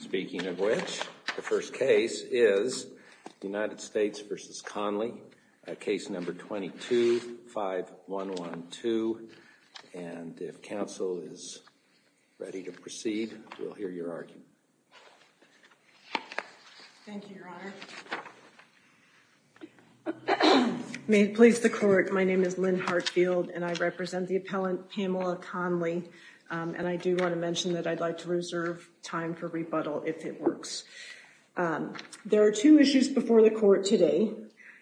Speaking of which, the first case is United States v. Conley, Case No. 22-5112. And if counsel is ready to proceed, we'll hear your argument. Thank you, Your Honor. May it please the Court, my name is Lynn Hartfield, and I represent the appellant Pamela Conley. And I do want to mention that I'd like to reserve time for rebuttal if it works. There are two issues before the Court today,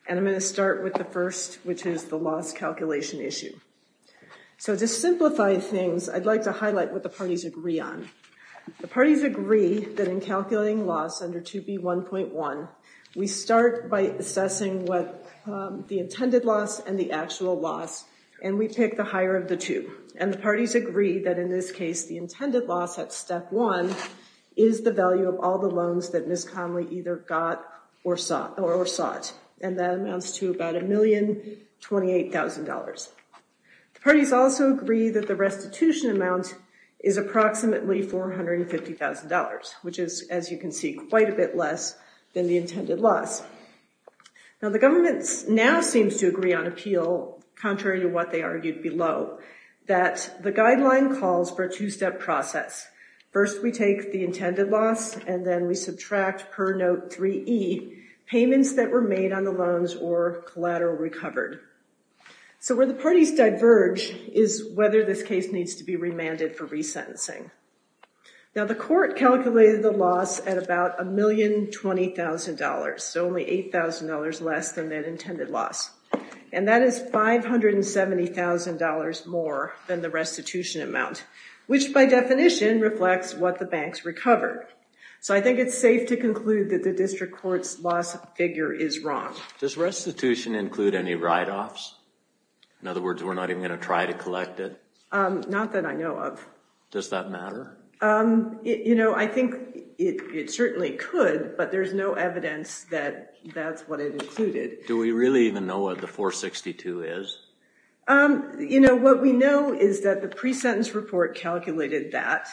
and I'm going to start with the first, which is the loss calculation issue. So to simplify things, I'd like to highlight what the parties agree on. The parties agree that in calculating loss under 2B1.1, we start by assessing what the intended loss and the actual loss, and we pick the higher of the two. And the parties agree that in this case, the intended loss at Step 1 is the value of all the loans that Ms. Conley either got or sought, and that amounts to about $1,028,000. The parties also agree that the restitution amount is approximately $450,000, which is, as you can see, quite a bit less than the intended loss. Now, the government now seems to agree on appeal, contrary to what they argued below, that the guideline calls for a two-step process. First, we take the intended loss, and then we subtract per note 3E payments that were made on the loans or collateral recovered. So where the parties diverge is whether this case needs to be remanded for resentencing. Now, the court calculated the loss at about $1,020,000, so only $8,000 less than that intended loss. And that is $570,000 more than the restitution amount, which, by definition, reflects what the banks recovered. So I think it's safe to conclude that the district court's loss figure is wrong. Does restitution include any write-offs? In other words, we're not even going to try to collect it? Not that I know of. Does that matter? You know, I think it certainly could, but there's no evidence that that's what it included. Do we really even know what the 462 is? You know, what we know is that the pre-sentence report calculated that,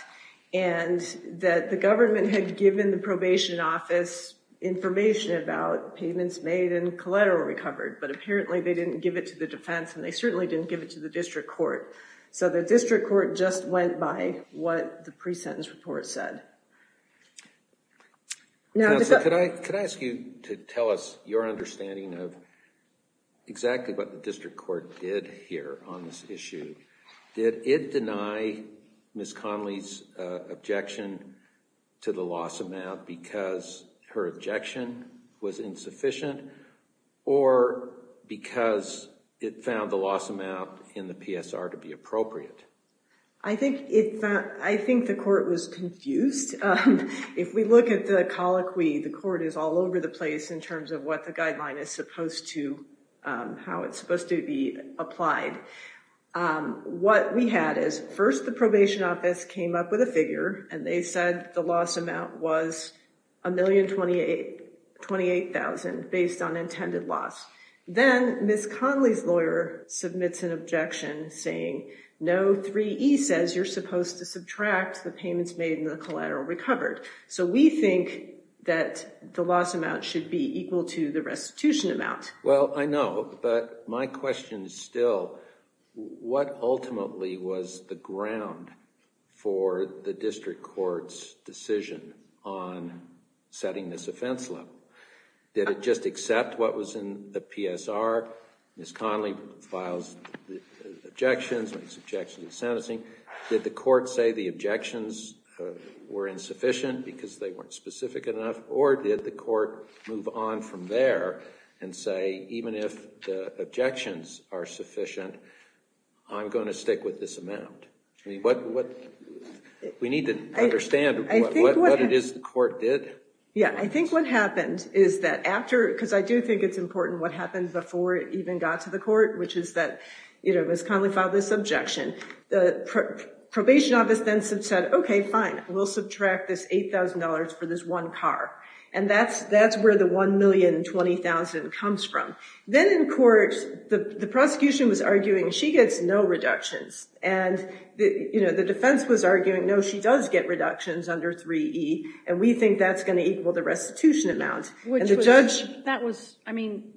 and that the government had given the probation office information about payments made and collateral recovered, but apparently they didn't give it to the defense, and they certainly didn't give it to the district court. So the district court just went by what the pre-sentence report said. Counsel, could I ask you to tell us your understanding of exactly what the district court did here on this issue? Did it deny Ms. Connolly's objection to the loss amount because her objection was insufficient or because it found the loss amount in the PSR to be appropriate? I think the court was confused. If we look at the colloquy, the court is all over the place in terms of what the guideline is supposed to, how it's supposed to be applied. What we had is first the probation office came up with a figure, and they said the loss amount was $1,028,000 based on intended loss. Then Ms. Connolly's lawyer submits an objection saying, no 3E says you're supposed to subtract the payments made and the collateral recovered. So we think that the loss amount should be equal to the restitution amount. Well, I know, but my question is still, what ultimately was the ground for the district court's decision on setting this offense level? Did it just accept what was in the PSR? Ms. Connolly files objections, makes objections to sentencing. Did the court say the objections were insufficient because they weren't specific enough, or did the court move on from there and say even if the objections are sufficient, I'm going to stick with this amount? We need to understand what it is the court did. Yeah, I think what happened is that after, because I do think it's important what happened before it even got to the court, which is that Ms. Connolly filed this objection. The probation office then said, okay, fine. We'll subtract this $8,000 for this one car. And that's where the $1,020,000 comes from. Then in court, the prosecution was arguing she gets no reductions. And the defense was arguing, no, she does get reductions under 3E, and we think that's going to equal the restitution amount. Which was, I mean,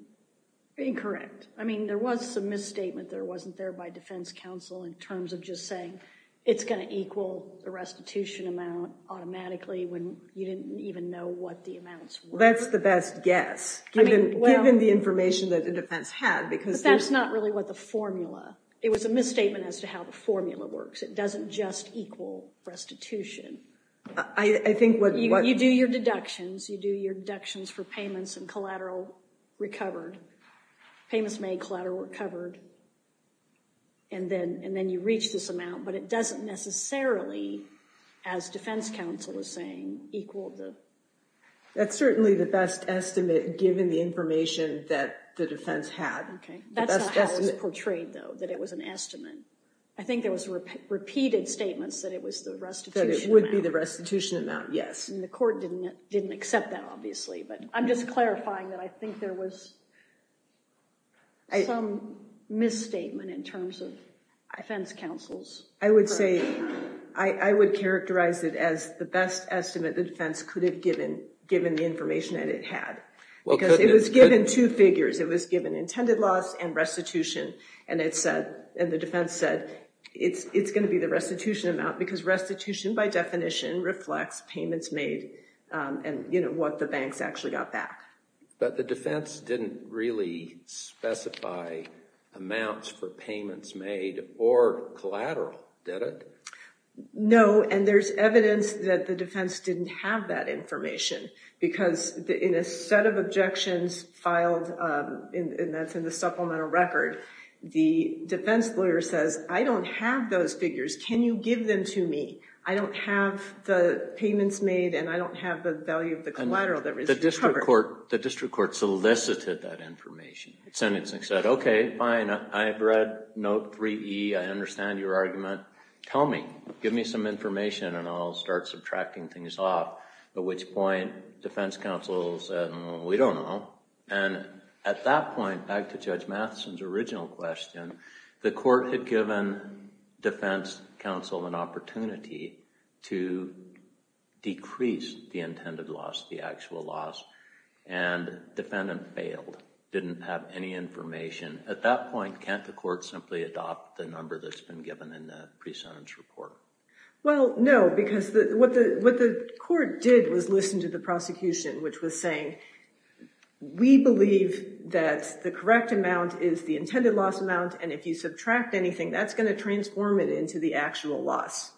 incorrect. I mean, there was some misstatement that wasn't there by defense counsel in terms of just saying it's going to equal the restitution amount automatically when you didn't even know what the amounts were. That's the best guess, given the information that the defense had. But that's not really what the formula. It was a misstatement as to how the formula works. It doesn't just equal restitution. You do your deductions. You do your deductions for payments and collateral recovered. Payments made, collateral recovered. And then you reach this amount. But it doesn't necessarily, as defense counsel was saying, equal the... That's certainly the best estimate, given the information that the defense had. Okay. That's not how it was portrayed, though, that it was an estimate. I think there was repeated statements that it was the restitution amount. That it would be the restitution amount, yes. And the court didn't accept that, obviously. But I'm just clarifying that I think there was some misstatement in terms of defense counsel's... I would characterize it as the best estimate the defense could have given, given the information that it had. Because it was given two figures. It was given intended loss and restitution. And the defense said, it's going to be the restitution amount, because restitution, by definition, reflects payments made and what the banks actually got back. But the defense didn't really specify amounts for payments made or collateral, did it? No. And there's evidence that the defense didn't have that information. Because in a set of objections filed, and that's in the supplemental record, the defense lawyer says, I don't have those figures. Can you give them to me? I don't have the payments made, and I don't have the value of the collateral that was recovered. The district court solicited that information. Sentencing said, OK, fine. I have read note 3E. I understand your argument. Tell me. Give me some information, and I'll start subtracting things off. At which point, defense counsel said, we don't know. And at that point, back to Judge Matheson's original question, the court had given defense counsel an opportunity to decrease the intended loss, the actual loss, and defendant failed, didn't have any information. At that point, can't the court simply adopt the number that's been given in the pre-sentence report? Well, no, because what the court did was listen to the prosecution, and if you subtract anything, that's going to transform it into the actual loss.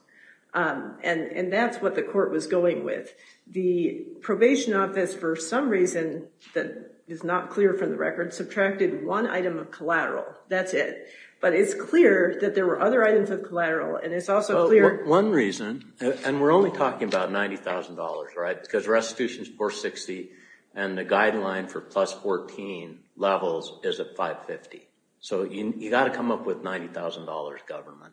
And that's what the court was going with. The probation office, for some reason that is not clear from the record, subtracted one item of collateral. That's it. But it's clear that there were other items of collateral, and it's also clear One reason, and we're only talking about $90,000, right, because restitution is $460,000, and the guideline for plus 14 levels is at $550,000. So you've got to come up with $90,000 government.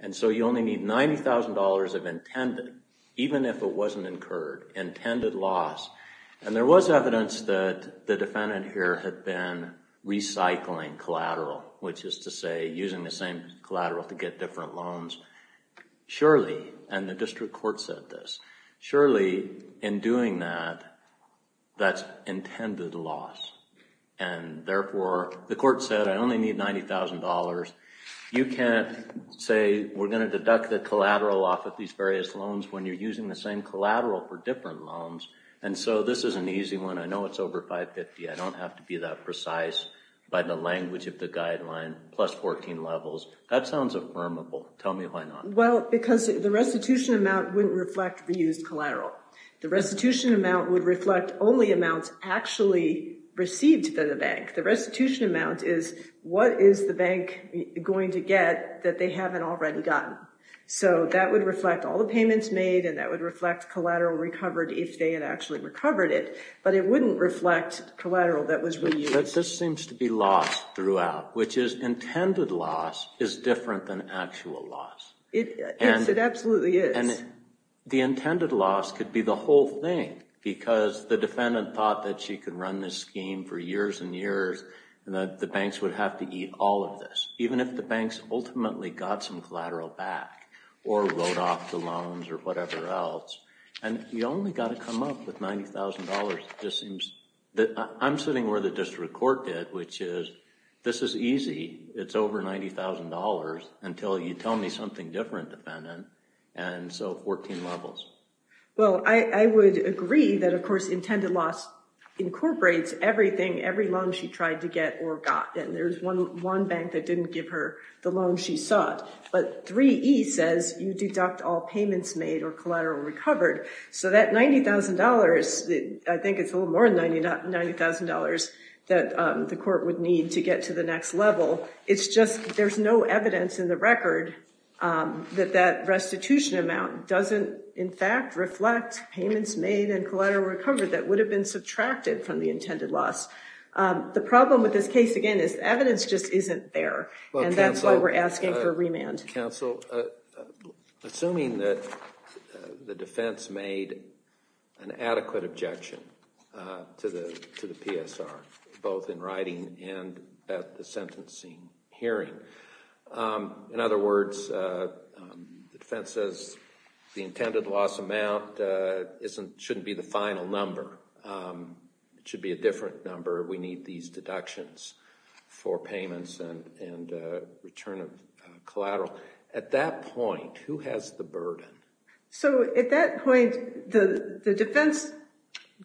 And so you only need $90,000 of intended, even if it wasn't incurred, intended loss. And there was evidence that the defendant here had been recycling collateral, which is to say using the same collateral to get different loans. Surely, and the district court said this, surely in doing that, that's intended loss. And therefore, the court said I only need $90,000. You can't say we're going to deduct the collateral off of these various loans when you're using the same collateral for different loans. And so this is an easy one. I know it's over $550,000. I don't have to be that precise by the language of the guideline, plus 14 levels. That sounds affirmable. Tell me why not. Well, because the restitution amount wouldn't reflect reused collateral. The restitution amount would reflect only amounts actually received by the bank. The restitution amount is what is the bank going to get that they haven't already gotten. So that would reflect all the payments made, and that would reflect collateral recovered if they had actually recovered it. But it wouldn't reflect collateral that was reused. This seems to be loss throughout, which is intended loss is different than actual loss. It absolutely is. And the intended loss could be the whole thing, because the defendant thought that she could run this scheme for years and years and that the banks would have to eat all of this, even if the banks ultimately got some collateral back or wrote off the loans or whatever else. And you only got to come up with $90,000. It just seems that I'm sitting where the district court did, which is this is easy. It's over $90,000 until you tell me something different, defendant. And so 14 levels. Well, I would agree that, of course, intended loss incorporates everything, every loan she tried to get or got. And there's one bank that didn't give her the loan she sought. But 3E says you deduct all payments made or collateral recovered. So that $90,000, I think it's a little more than $90,000, that the court would need to get to the next level. It's just there's no evidence in the record that that restitution amount doesn't, in fact, reflect payments made and collateral recovered that would have been subtracted from the intended loss. The problem with this case, again, is evidence just isn't there. And that's why we're asking for remand. Thank you, counsel. Assuming that the defense made an adequate objection to the PSR, both in writing and at the sentencing hearing. In other words, the defense says the intended loss amount shouldn't be the final number. It should be a different number. We need these deductions for payments and return of collateral. At that point, who has the burden? So at that point, the defense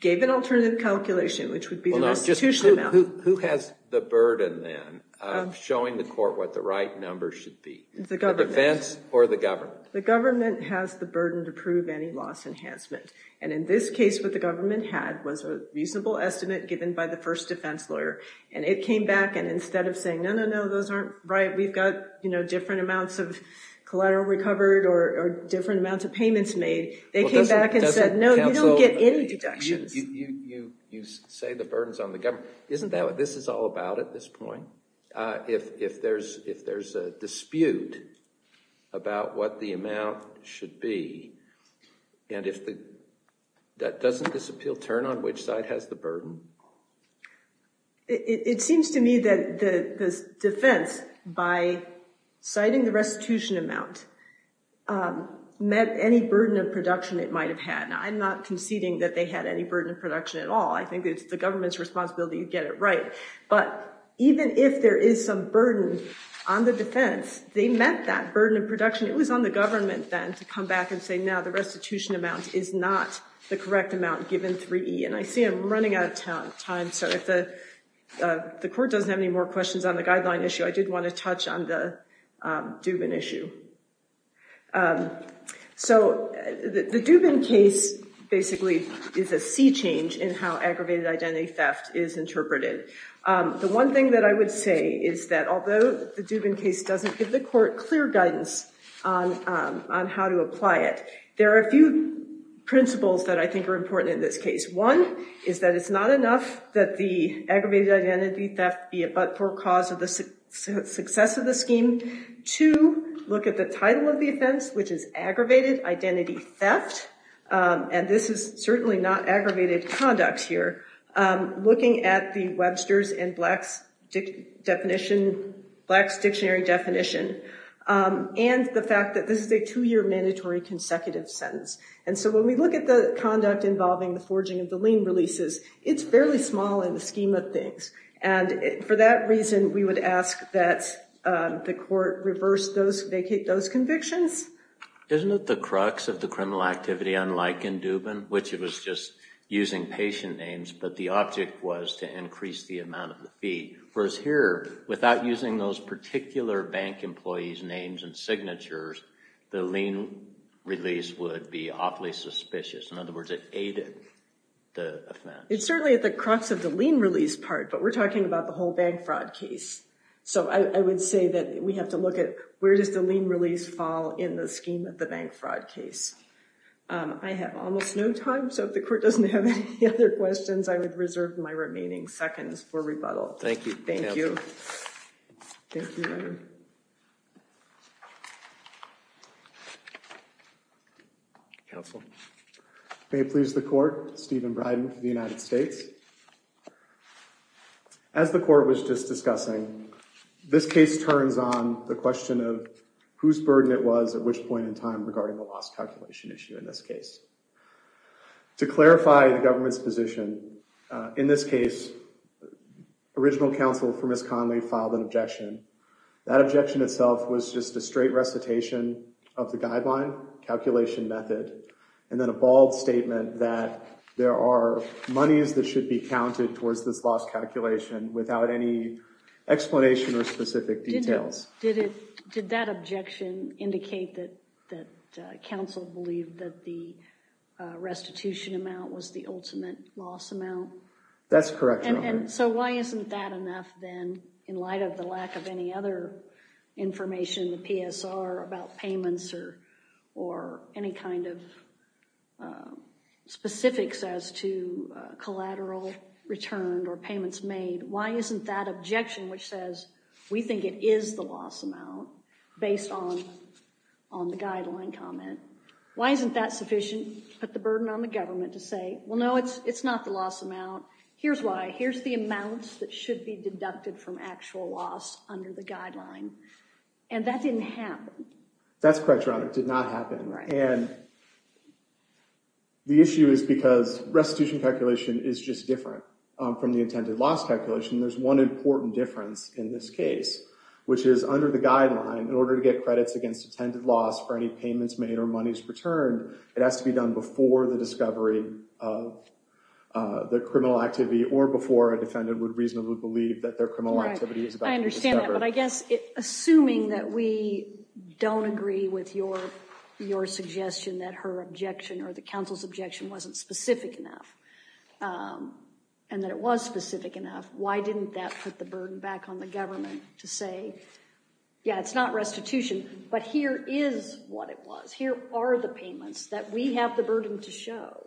gave an alternative calculation, which would be the restitution amount. Who has the burden then of showing the court what the right number should be? The government. The defense or the government? The government has the burden to prove any loss enhancement. And in this case, what the government had was a reasonable estimate given by the first defense lawyer. And it came back, and instead of saying, no, no, no, those aren't right, we've got different amounts of collateral recovered or different amounts of payments made, they came back and said, no, you don't get any deductions. You say the burden's on the government. Isn't that what this is all about at this point? If there's a dispute about what the amount should be, and if that doesn't disappeal, turn on which side has the burden? It seems to me that the defense, by citing the restitution amount, met any burden of production it might have had. Now, I'm not conceding that they had any burden of production at all. I think it's the government's responsibility to get it right. But even if there is some burden on the defense, they met that burden of production. It was on the government then to come back and say, no, the restitution amount is not the correct amount given 3E. And I see I'm running out of time, so if the court doesn't have any more questions on the guideline issue, I did want to touch on the Dubin issue. So the Dubin case basically is a sea change in how aggravated identity theft is interpreted. The one thing that I would say is that although the Dubin case doesn't give the court clear guidance on how to apply it, there are a few principles that I think are important in this case. One is that it's not enough that the aggravated identity theft be a but-for cause of the success of the scheme. Two, look at the title of the offense, which is aggravated identity theft, and this is certainly not aggravated conduct here. Looking at the Webster's and Black's dictionary definition and the fact that this is a two-year mandatory consecutive sentence. And so when we look at the conduct involving the forging of the lien releases, it's fairly small in the scheme of things. And for that reason, we would ask that the court reverse those convictions. Isn't it the crux of the criminal activity, unlike in Dubin, which it was just using patient names, but the object was to increase the amount of the fee. Whereas here, without using those particular bank employees' names and signatures, the lien release would be awfully suspicious. In other words, it aided the offense. It's certainly at the crux of the lien release part, but we're talking about the whole bank fraud case. So I would say that we have to look at where does the lien release fall in the scheme of the bank fraud case. I have almost no time, so if the court doesn't have any other questions, I would reserve my remaining seconds for rebuttal. Thank you. Thank you. Thank you. Counsel. May it please the court, Stephen Bryden for the United States. As the court was just discussing, this case turns on the question of whose burden it was at which point in time regarding the loss calculation issue in this case. To clarify the government's position, in this case, original counsel for Ms. Connelly filed an objection. That objection itself was just a straight recitation of the guideline, calculation method, and then a bald statement that there are monies that should be counted towards this loss calculation without any explanation or specific details. Did that objection indicate that counsel believed that the restitution amount was the ultimate loss amount? That's correct, Your Honor. So why isn't that enough then in light of the lack of any other information, the PSR about payments or any kind of specifics as to collateral returned or payments made? Why isn't that objection which says we think it is the loss amount based on the guideline comment, why isn't that sufficient to put the burden on the government to say, well, no, it's not the loss amount. Here's why. Here's the amounts that should be deducted from actual loss under the guideline. And that didn't happen. That's correct, Your Honor. It did not happen. And the issue is because restitution calculation is just different from the intended loss calculation, there's one important difference in this case, which is under the guideline in order to get credits against intended loss for any payments made or monies returned, it has to be done before the discovery of the criminal activity or before a defendant would reasonably believe that their criminal activity is about to be discovered. I understand that. But I guess assuming that we don't agree with your suggestion that her objection or the counsel's objection wasn't specific enough and that it was specific enough, why didn't that put the burden back on the government to say, yeah, it's not restitution, but here is what it was. Here are the payments that we have the burden to show.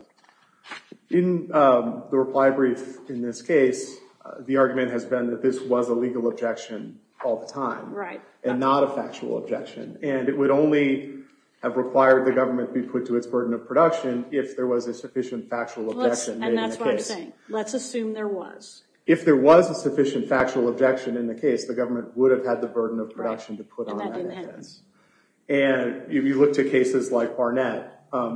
In the reply brief in this case, the argument has been that this was a legal objection all the time and not a factual objection. And it would only have required the government to be put to its burden of production if there was a sufficient factual objection made in the case. And that's what I'm saying. Let's assume there was. If there was a sufficient factual objection in the case, the government would have had the burden of production to put on that offense. And that didn't happen. And if you look to cases like Barnett,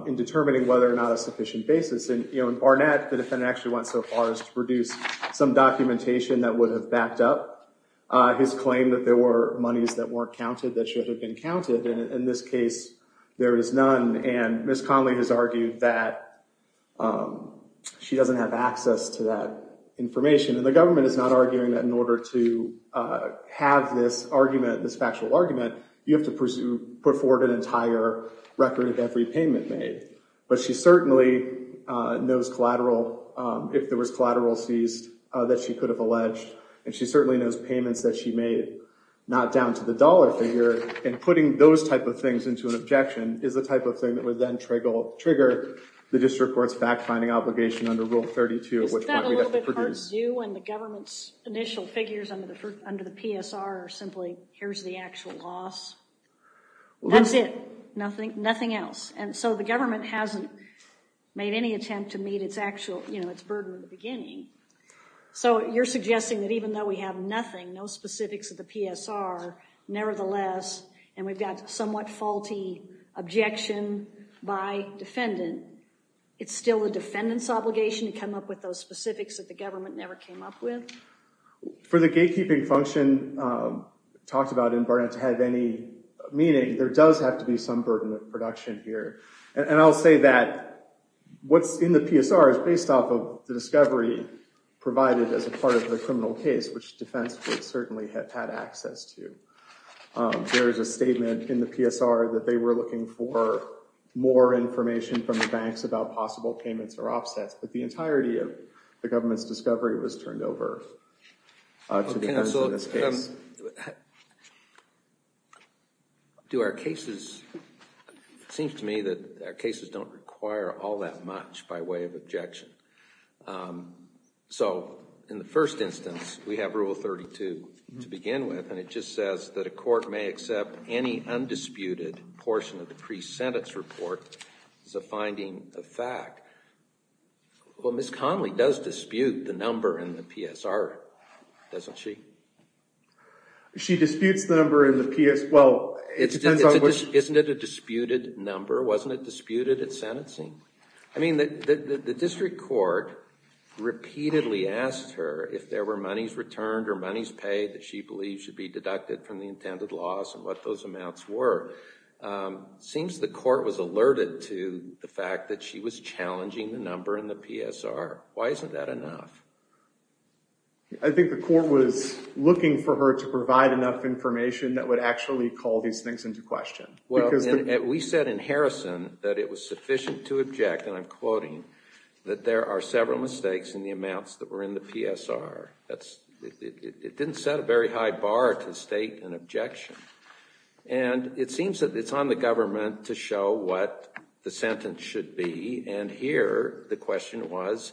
in determining whether or not a sufficient basis, in Barnett the defendant actually went so far as to produce some documentation that would have backed up his claim that there were monies that weren't counted that should have been counted. And in this case, there is none. And Ms. Conley has argued that she doesn't have access to that information. And the government is not arguing that in order to have this argument, this factual argument, you have to put forward an entire record of every payment made. But she certainly knows collateral, if there was collateral seized, that she could have alleged. And she certainly knows payments that she made, not down to the dollar figure. And putting those type of things into an objection is the type of thing that would then trigger the district court's fact-finding obligation under Rule 32. Is that a little bit hard to do when the government's initial figures under the PSR are simply, here's the actual loss? That's it. Nothing else. And so the government hasn't made any attempt to meet its actual, you know, its burden in the beginning. So you're suggesting that even though we have nothing, no specifics of the PSR, nevertheless, and we've got somewhat faulty objection by defendant, it's still the defendant's obligation to come up with those specifics that the government never came up with? For the gatekeeping function talked about in Barnett to have any meaning, there does have to be some burden of production here. And I'll say that what's in the PSR is based off of the discovery provided as a part of the criminal case, which defense would certainly have had access to. There is a statement in the PSR that they were looking for more information from the banks about possible payments or offsets. But the entirety of the government's discovery was turned over to the defense in this case. But do our cases, it seems to me that our cases don't require all that much by way of objection. So in the first instance, we have Rule 32 to begin with, and it just says that a court may accept any undisputed portion of the pre-sentence report as a finding of fact. Well, Ms. Connolly does dispute the number in the PSR, doesn't she? She disputes the number in the PSR. Isn't it a disputed number? Wasn't it disputed at sentencing? I mean, the district court repeatedly asked her if there were monies returned or monies paid that she believes should be deducted from the intended loss and what those amounts were. It seems the court was alerted to the fact that she was challenging the number in the PSR. Why isn't that enough? I think the court was looking for her to provide enough information that would actually call these things into question. Well, we said in Harrison that it was sufficient to object, and I'm quoting, that there are several mistakes in the amounts that were in the PSR. It didn't set a very high bar to state an objection. And it seems that it's on the government to show what the sentence should be, and here the question was,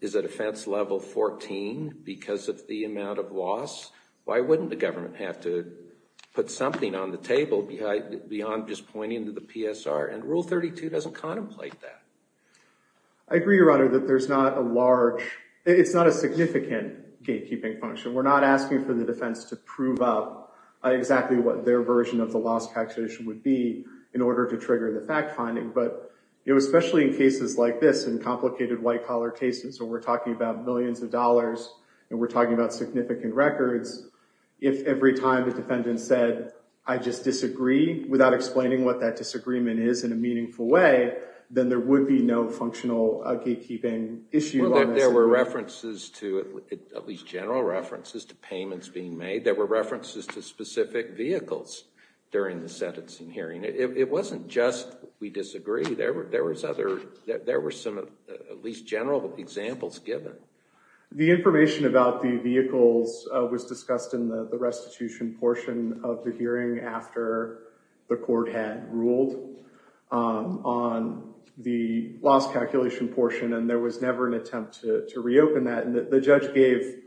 is a defense level 14 because of the amount of loss? Why wouldn't the government have to put something on the table beyond just pointing to the PSR? And Rule 32 doesn't contemplate that. I agree, Your Honor, that there's not a large—it's not a significant gatekeeping function. We're not asking for the defense to prove up exactly what their version of the loss calculation would be in order to trigger the fact-finding, but especially in cases like this, in complicated white-collar cases where we're talking about millions of dollars and we're talking about significant records, if every time the defendant said, I just disagree without explaining what that disagreement is in a meaningful way, then there would be no functional gatekeeping issue. There were references to—at least general references to payments being made. There were references to specific vehicles during the sentencing hearing. It wasn't just we disagree. There were some at least general examples given. The information about the vehicles was discussed in the restitution portion of the hearing after the court had ruled on the loss calculation portion, and there was never an attempt to reopen that. And the judge gave,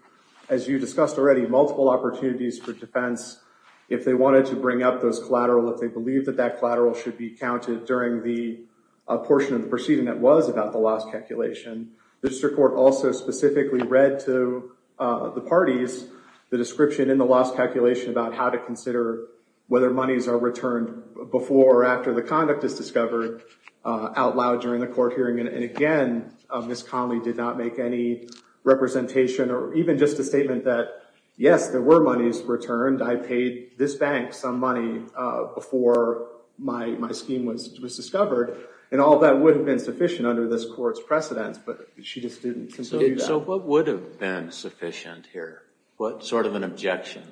as you discussed already, multiple opportunities for defense if they wanted to bring up those collateral, if they believed that that collateral should be counted during the portion of the proceeding that was about the loss calculation. The district court also specifically read to the parties the description in the loss calculation about how to consider whether monies are returned before or after the conduct is discovered out loud during the court hearing. And again, Ms. Conley did not make any representation or even just a statement that, yes, there were monies returned. I paid this bank some money before my scheme was discovered. And all that would have been sufficient under this court's precedence, but she just didn't consider that. So what would have been sufficient here? What sort of an objection?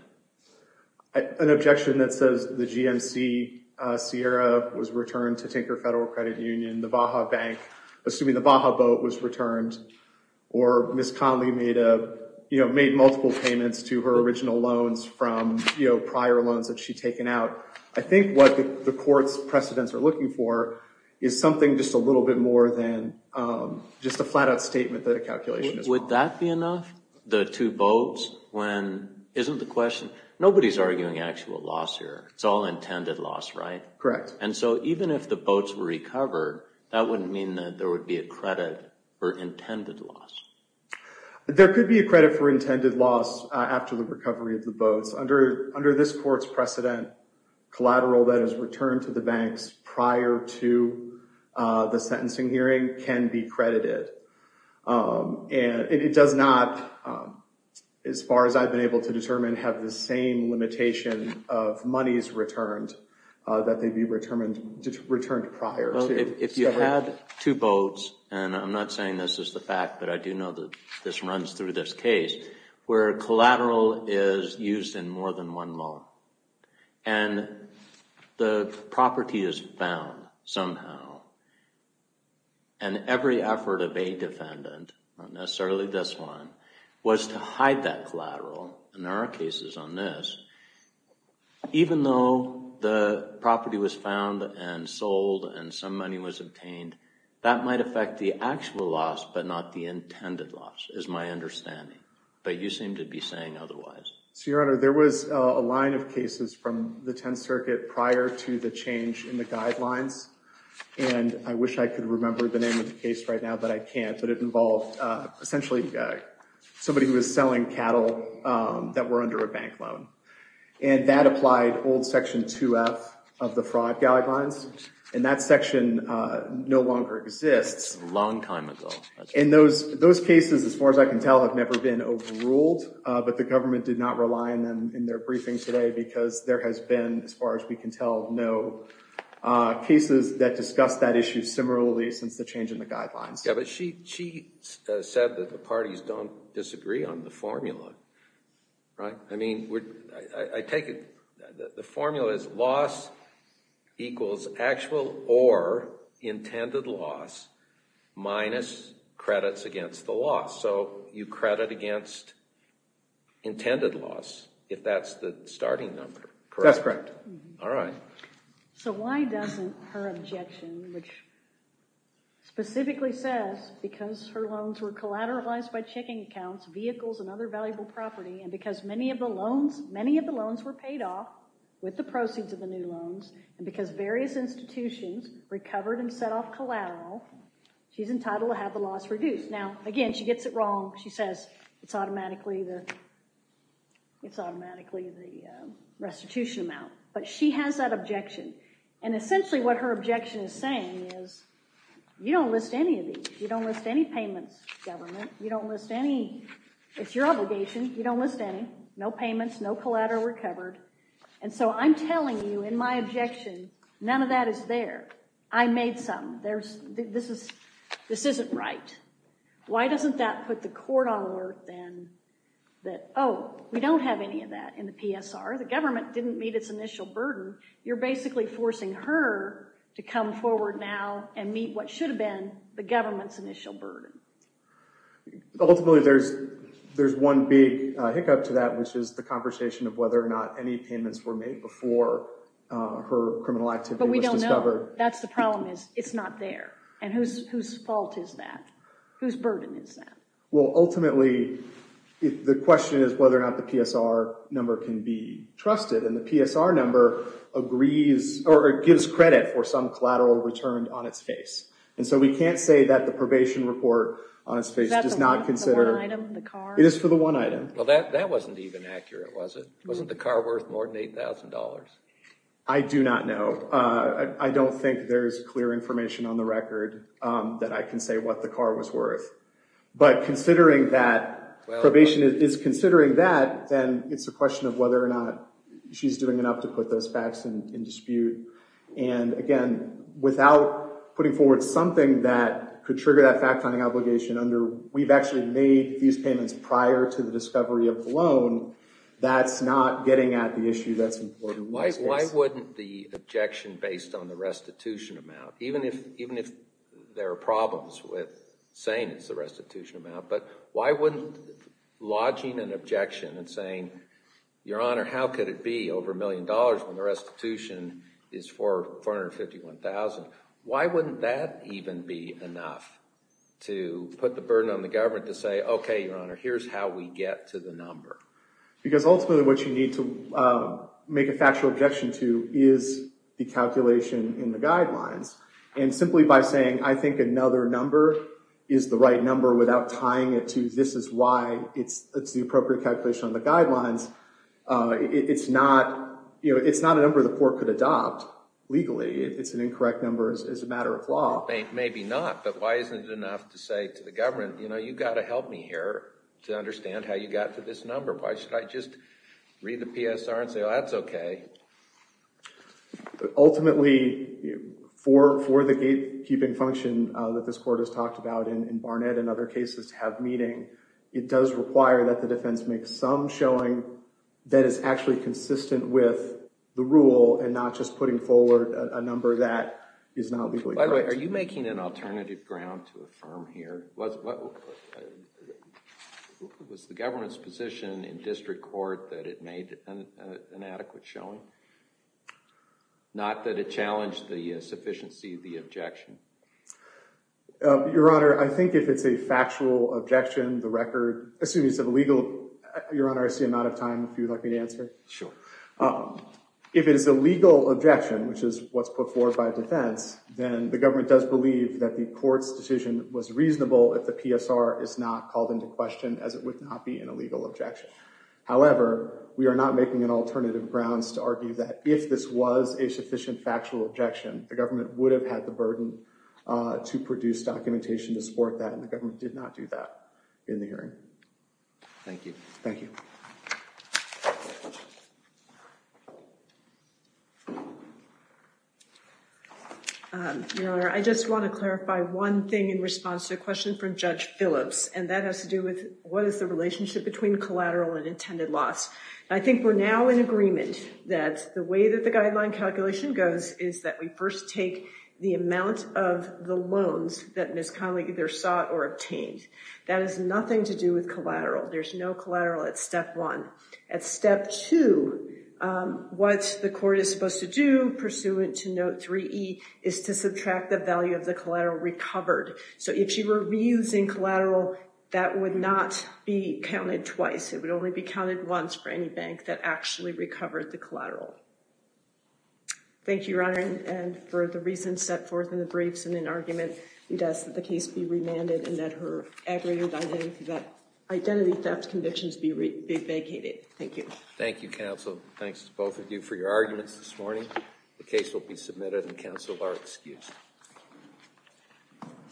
An objection that says the GMC, Sierra, was returned to Tinker Federal Credit Union, the Baja Bank, assuming the Baja boat was returned, or Ms. Conley made multiple payments to her original loans from prior loans that she'd taken out. I think what the court's precedents are looking for is something just a little bit more than just a flat-out statement that a calculation is wrong. Would that be enough, the two boats, when, isn't the question, nobody's arguing actual loss here. It's all intended loss, right? Correct. And so even if the boats were recovered, that wouldn't mean that there would be a credit for intended loss. There could be a credit for intended loss after the recovery of the boats. Under this court's precedent, collateral that is returned to the banks prior to the sentencing hearing can be credited. It does not, as far as I've been able to determine, have the same limitation of monies returned that they'd be returned prior to. If you had two boats, and I'm not saying this is the fact, but I do know that this runs through this case, where collateral is used in more than one loan, and the property is found somehow, and every effort of a defendant, not necessarily this one, was to hide that collateral, and there are cases on this, even though the property was found and sold and some money was obtained, that might affect the actual loss but not the intended loss, is my understanding. But you seem to be saying otherwise. So, Your Honor, there was a line of cases from the Tenth Circuit prior to the change in the guidelines, and I wish I could remember the name of the case right now, but I can't, but it involved essentially somebody who was selling cattle that were under a bank loan, and that applied old Section 2F of the fraud guidelines, and that section no longer exists. Long time ago. And those cases, as far as I can tell, have never been overruled, but the government did not rely on them in their briefings today, because there has been, as far as we can tell, no cases that discuss that issue similarly since the change in the guidelines. Yeah, but she said that the parties don't disagree on the formula, right? I mean, I take it that the formula is loss equals actual or intended loss minus credits against the loss. So you credit against intended loss if that's the starting number, correct? That's correct. All right. So why doesn't her objection, which specifically says, because her loans were collateralized by checking accounts, vehicles, and other valuable property, and because many of the loans were paid off with the proceeds of the new loans, and because various institutions recovered and set off collateral, she's entitled to have the loss reduced. Now, again, she gets it wrong. She says it's automatically the restitution amount, but she has that objection. And essentially what her objection is saying is you don't list any of these. You don't list any payments, government. You don't list any. It's your obligation. You don't list any. No payments, no collateral recovered. And so I'm telling you in my objection, none of that is there. I made some. This isn't right. Why doesn't that put the court on alert then that, oh, we don't have any of that in the PSR? The government didn't meet its initial burden. You're basically forcing her to come forward now and meet what should have been the government's initial burden. Ultimately, there's one big hiccup to that, which is the conversation of whether or not any payments were made before her criminal activity was discovered. But we don't know. That's the problem is it's not there. And whose fault is that? Whose burden is that? Well, ultimately, the question is whether or not the PSR number can be trusted. And the PSR number agrees or gives credit for some collateral returned on its face. And so we can't say that the probation report on its face does not consider. Is that for the one item, the car? It is for the one item. Well, that wasn't even accurate, was it? Wasn't the car worth more than $8,000? I do not know. I don't think there's clear information on the record that I can say what the car was worth. But considering that probation is considering that, then it's a question of whether or not she's doing enough to put those facts in dispute. And, again, without putting forward something that could trigger that fact-finding obligation under we've actually made these payments prior to the discovery of the loan, that's not getting at the issue that's important. Why wouldn't the objection based on the restitution amount, even if there are problems with saying it's the restitution amount, but why wouldn't lodging an objection and saying, Your Honor, how could it be over a million dollars when the restitution is for $451,000? Why wouldn't that even be enough to put the burden on the government to say, Okay, Your Honor, here's how we get to the number? Because ultimately what you need to make a factual objection to is the calculation in the guidelines. And simply by saying, I think another number is the right number without tying it to this is why it's the appropriate calculation on the guidelines, it's not a number the court could adopt legally. It's an incorrect number as a matter of law. Maybe not, but why isn't it enough to say to the government, You know, you've got to help me here to understand how you got to this number. Why should I just read the PSR and say, Oh, that's okay. Ultimately, for the gatekeeping function that this court has talked about in Barnett and other cases have meeting, it does require that the defense make some showing that is actually consistent with the rule and not just putting forward a number that is not legally correct. By the way, are you making an alternative ground to affirm here? Was the government's position in district court that it made an adequate showing? Not that it challenged the sufficiency of the objection? Your Honor, I think if it's a factual objection, the record, excuse me, it's a legal, Your Honor, I see I'm out of time. If you'd like me to answer? Sure. If it is a legal objection, which is what's put forward by defense, then the government does believe that the court's decision was reasonable. If the PSR is not called into question as it would not be an illegal objection. However, we are not making an alternative grounds to argue that if this was a sufficient factual objection, the government would have had the burden to produce documentation to support that. And the government did not do that in the hearing. Thank you. Thank you. Your Honor, I just want to clarify one thing in response to a question from Judge Phillips, and that has to do with what is the relationship between collateral and intended loss. I think we're now in agreement that the way that the guideline calculation goes is that we first take the amount of the loans that Ms. Connolly either sought or obtained. That has nothing to do with collateral. There's no collateral at Step 1. At Step 2, what the court is supposed to do, pursuant to Note 3E, is to subtract the value of the collateral recovered. So if she were reusing collateral, that would not be counted twice. It would only be counted once for any bank that actually recovered the collateral. Thank you, Your Honor. And for the reasons set forth in the briefs and in argument, it asks that the case be remanded and that her aggravated identity theft convictions be vacated. Thank you. Thank you, counsel. Thanks to both of you for your arguments this morning. The case will be submitted, and counsel are excused.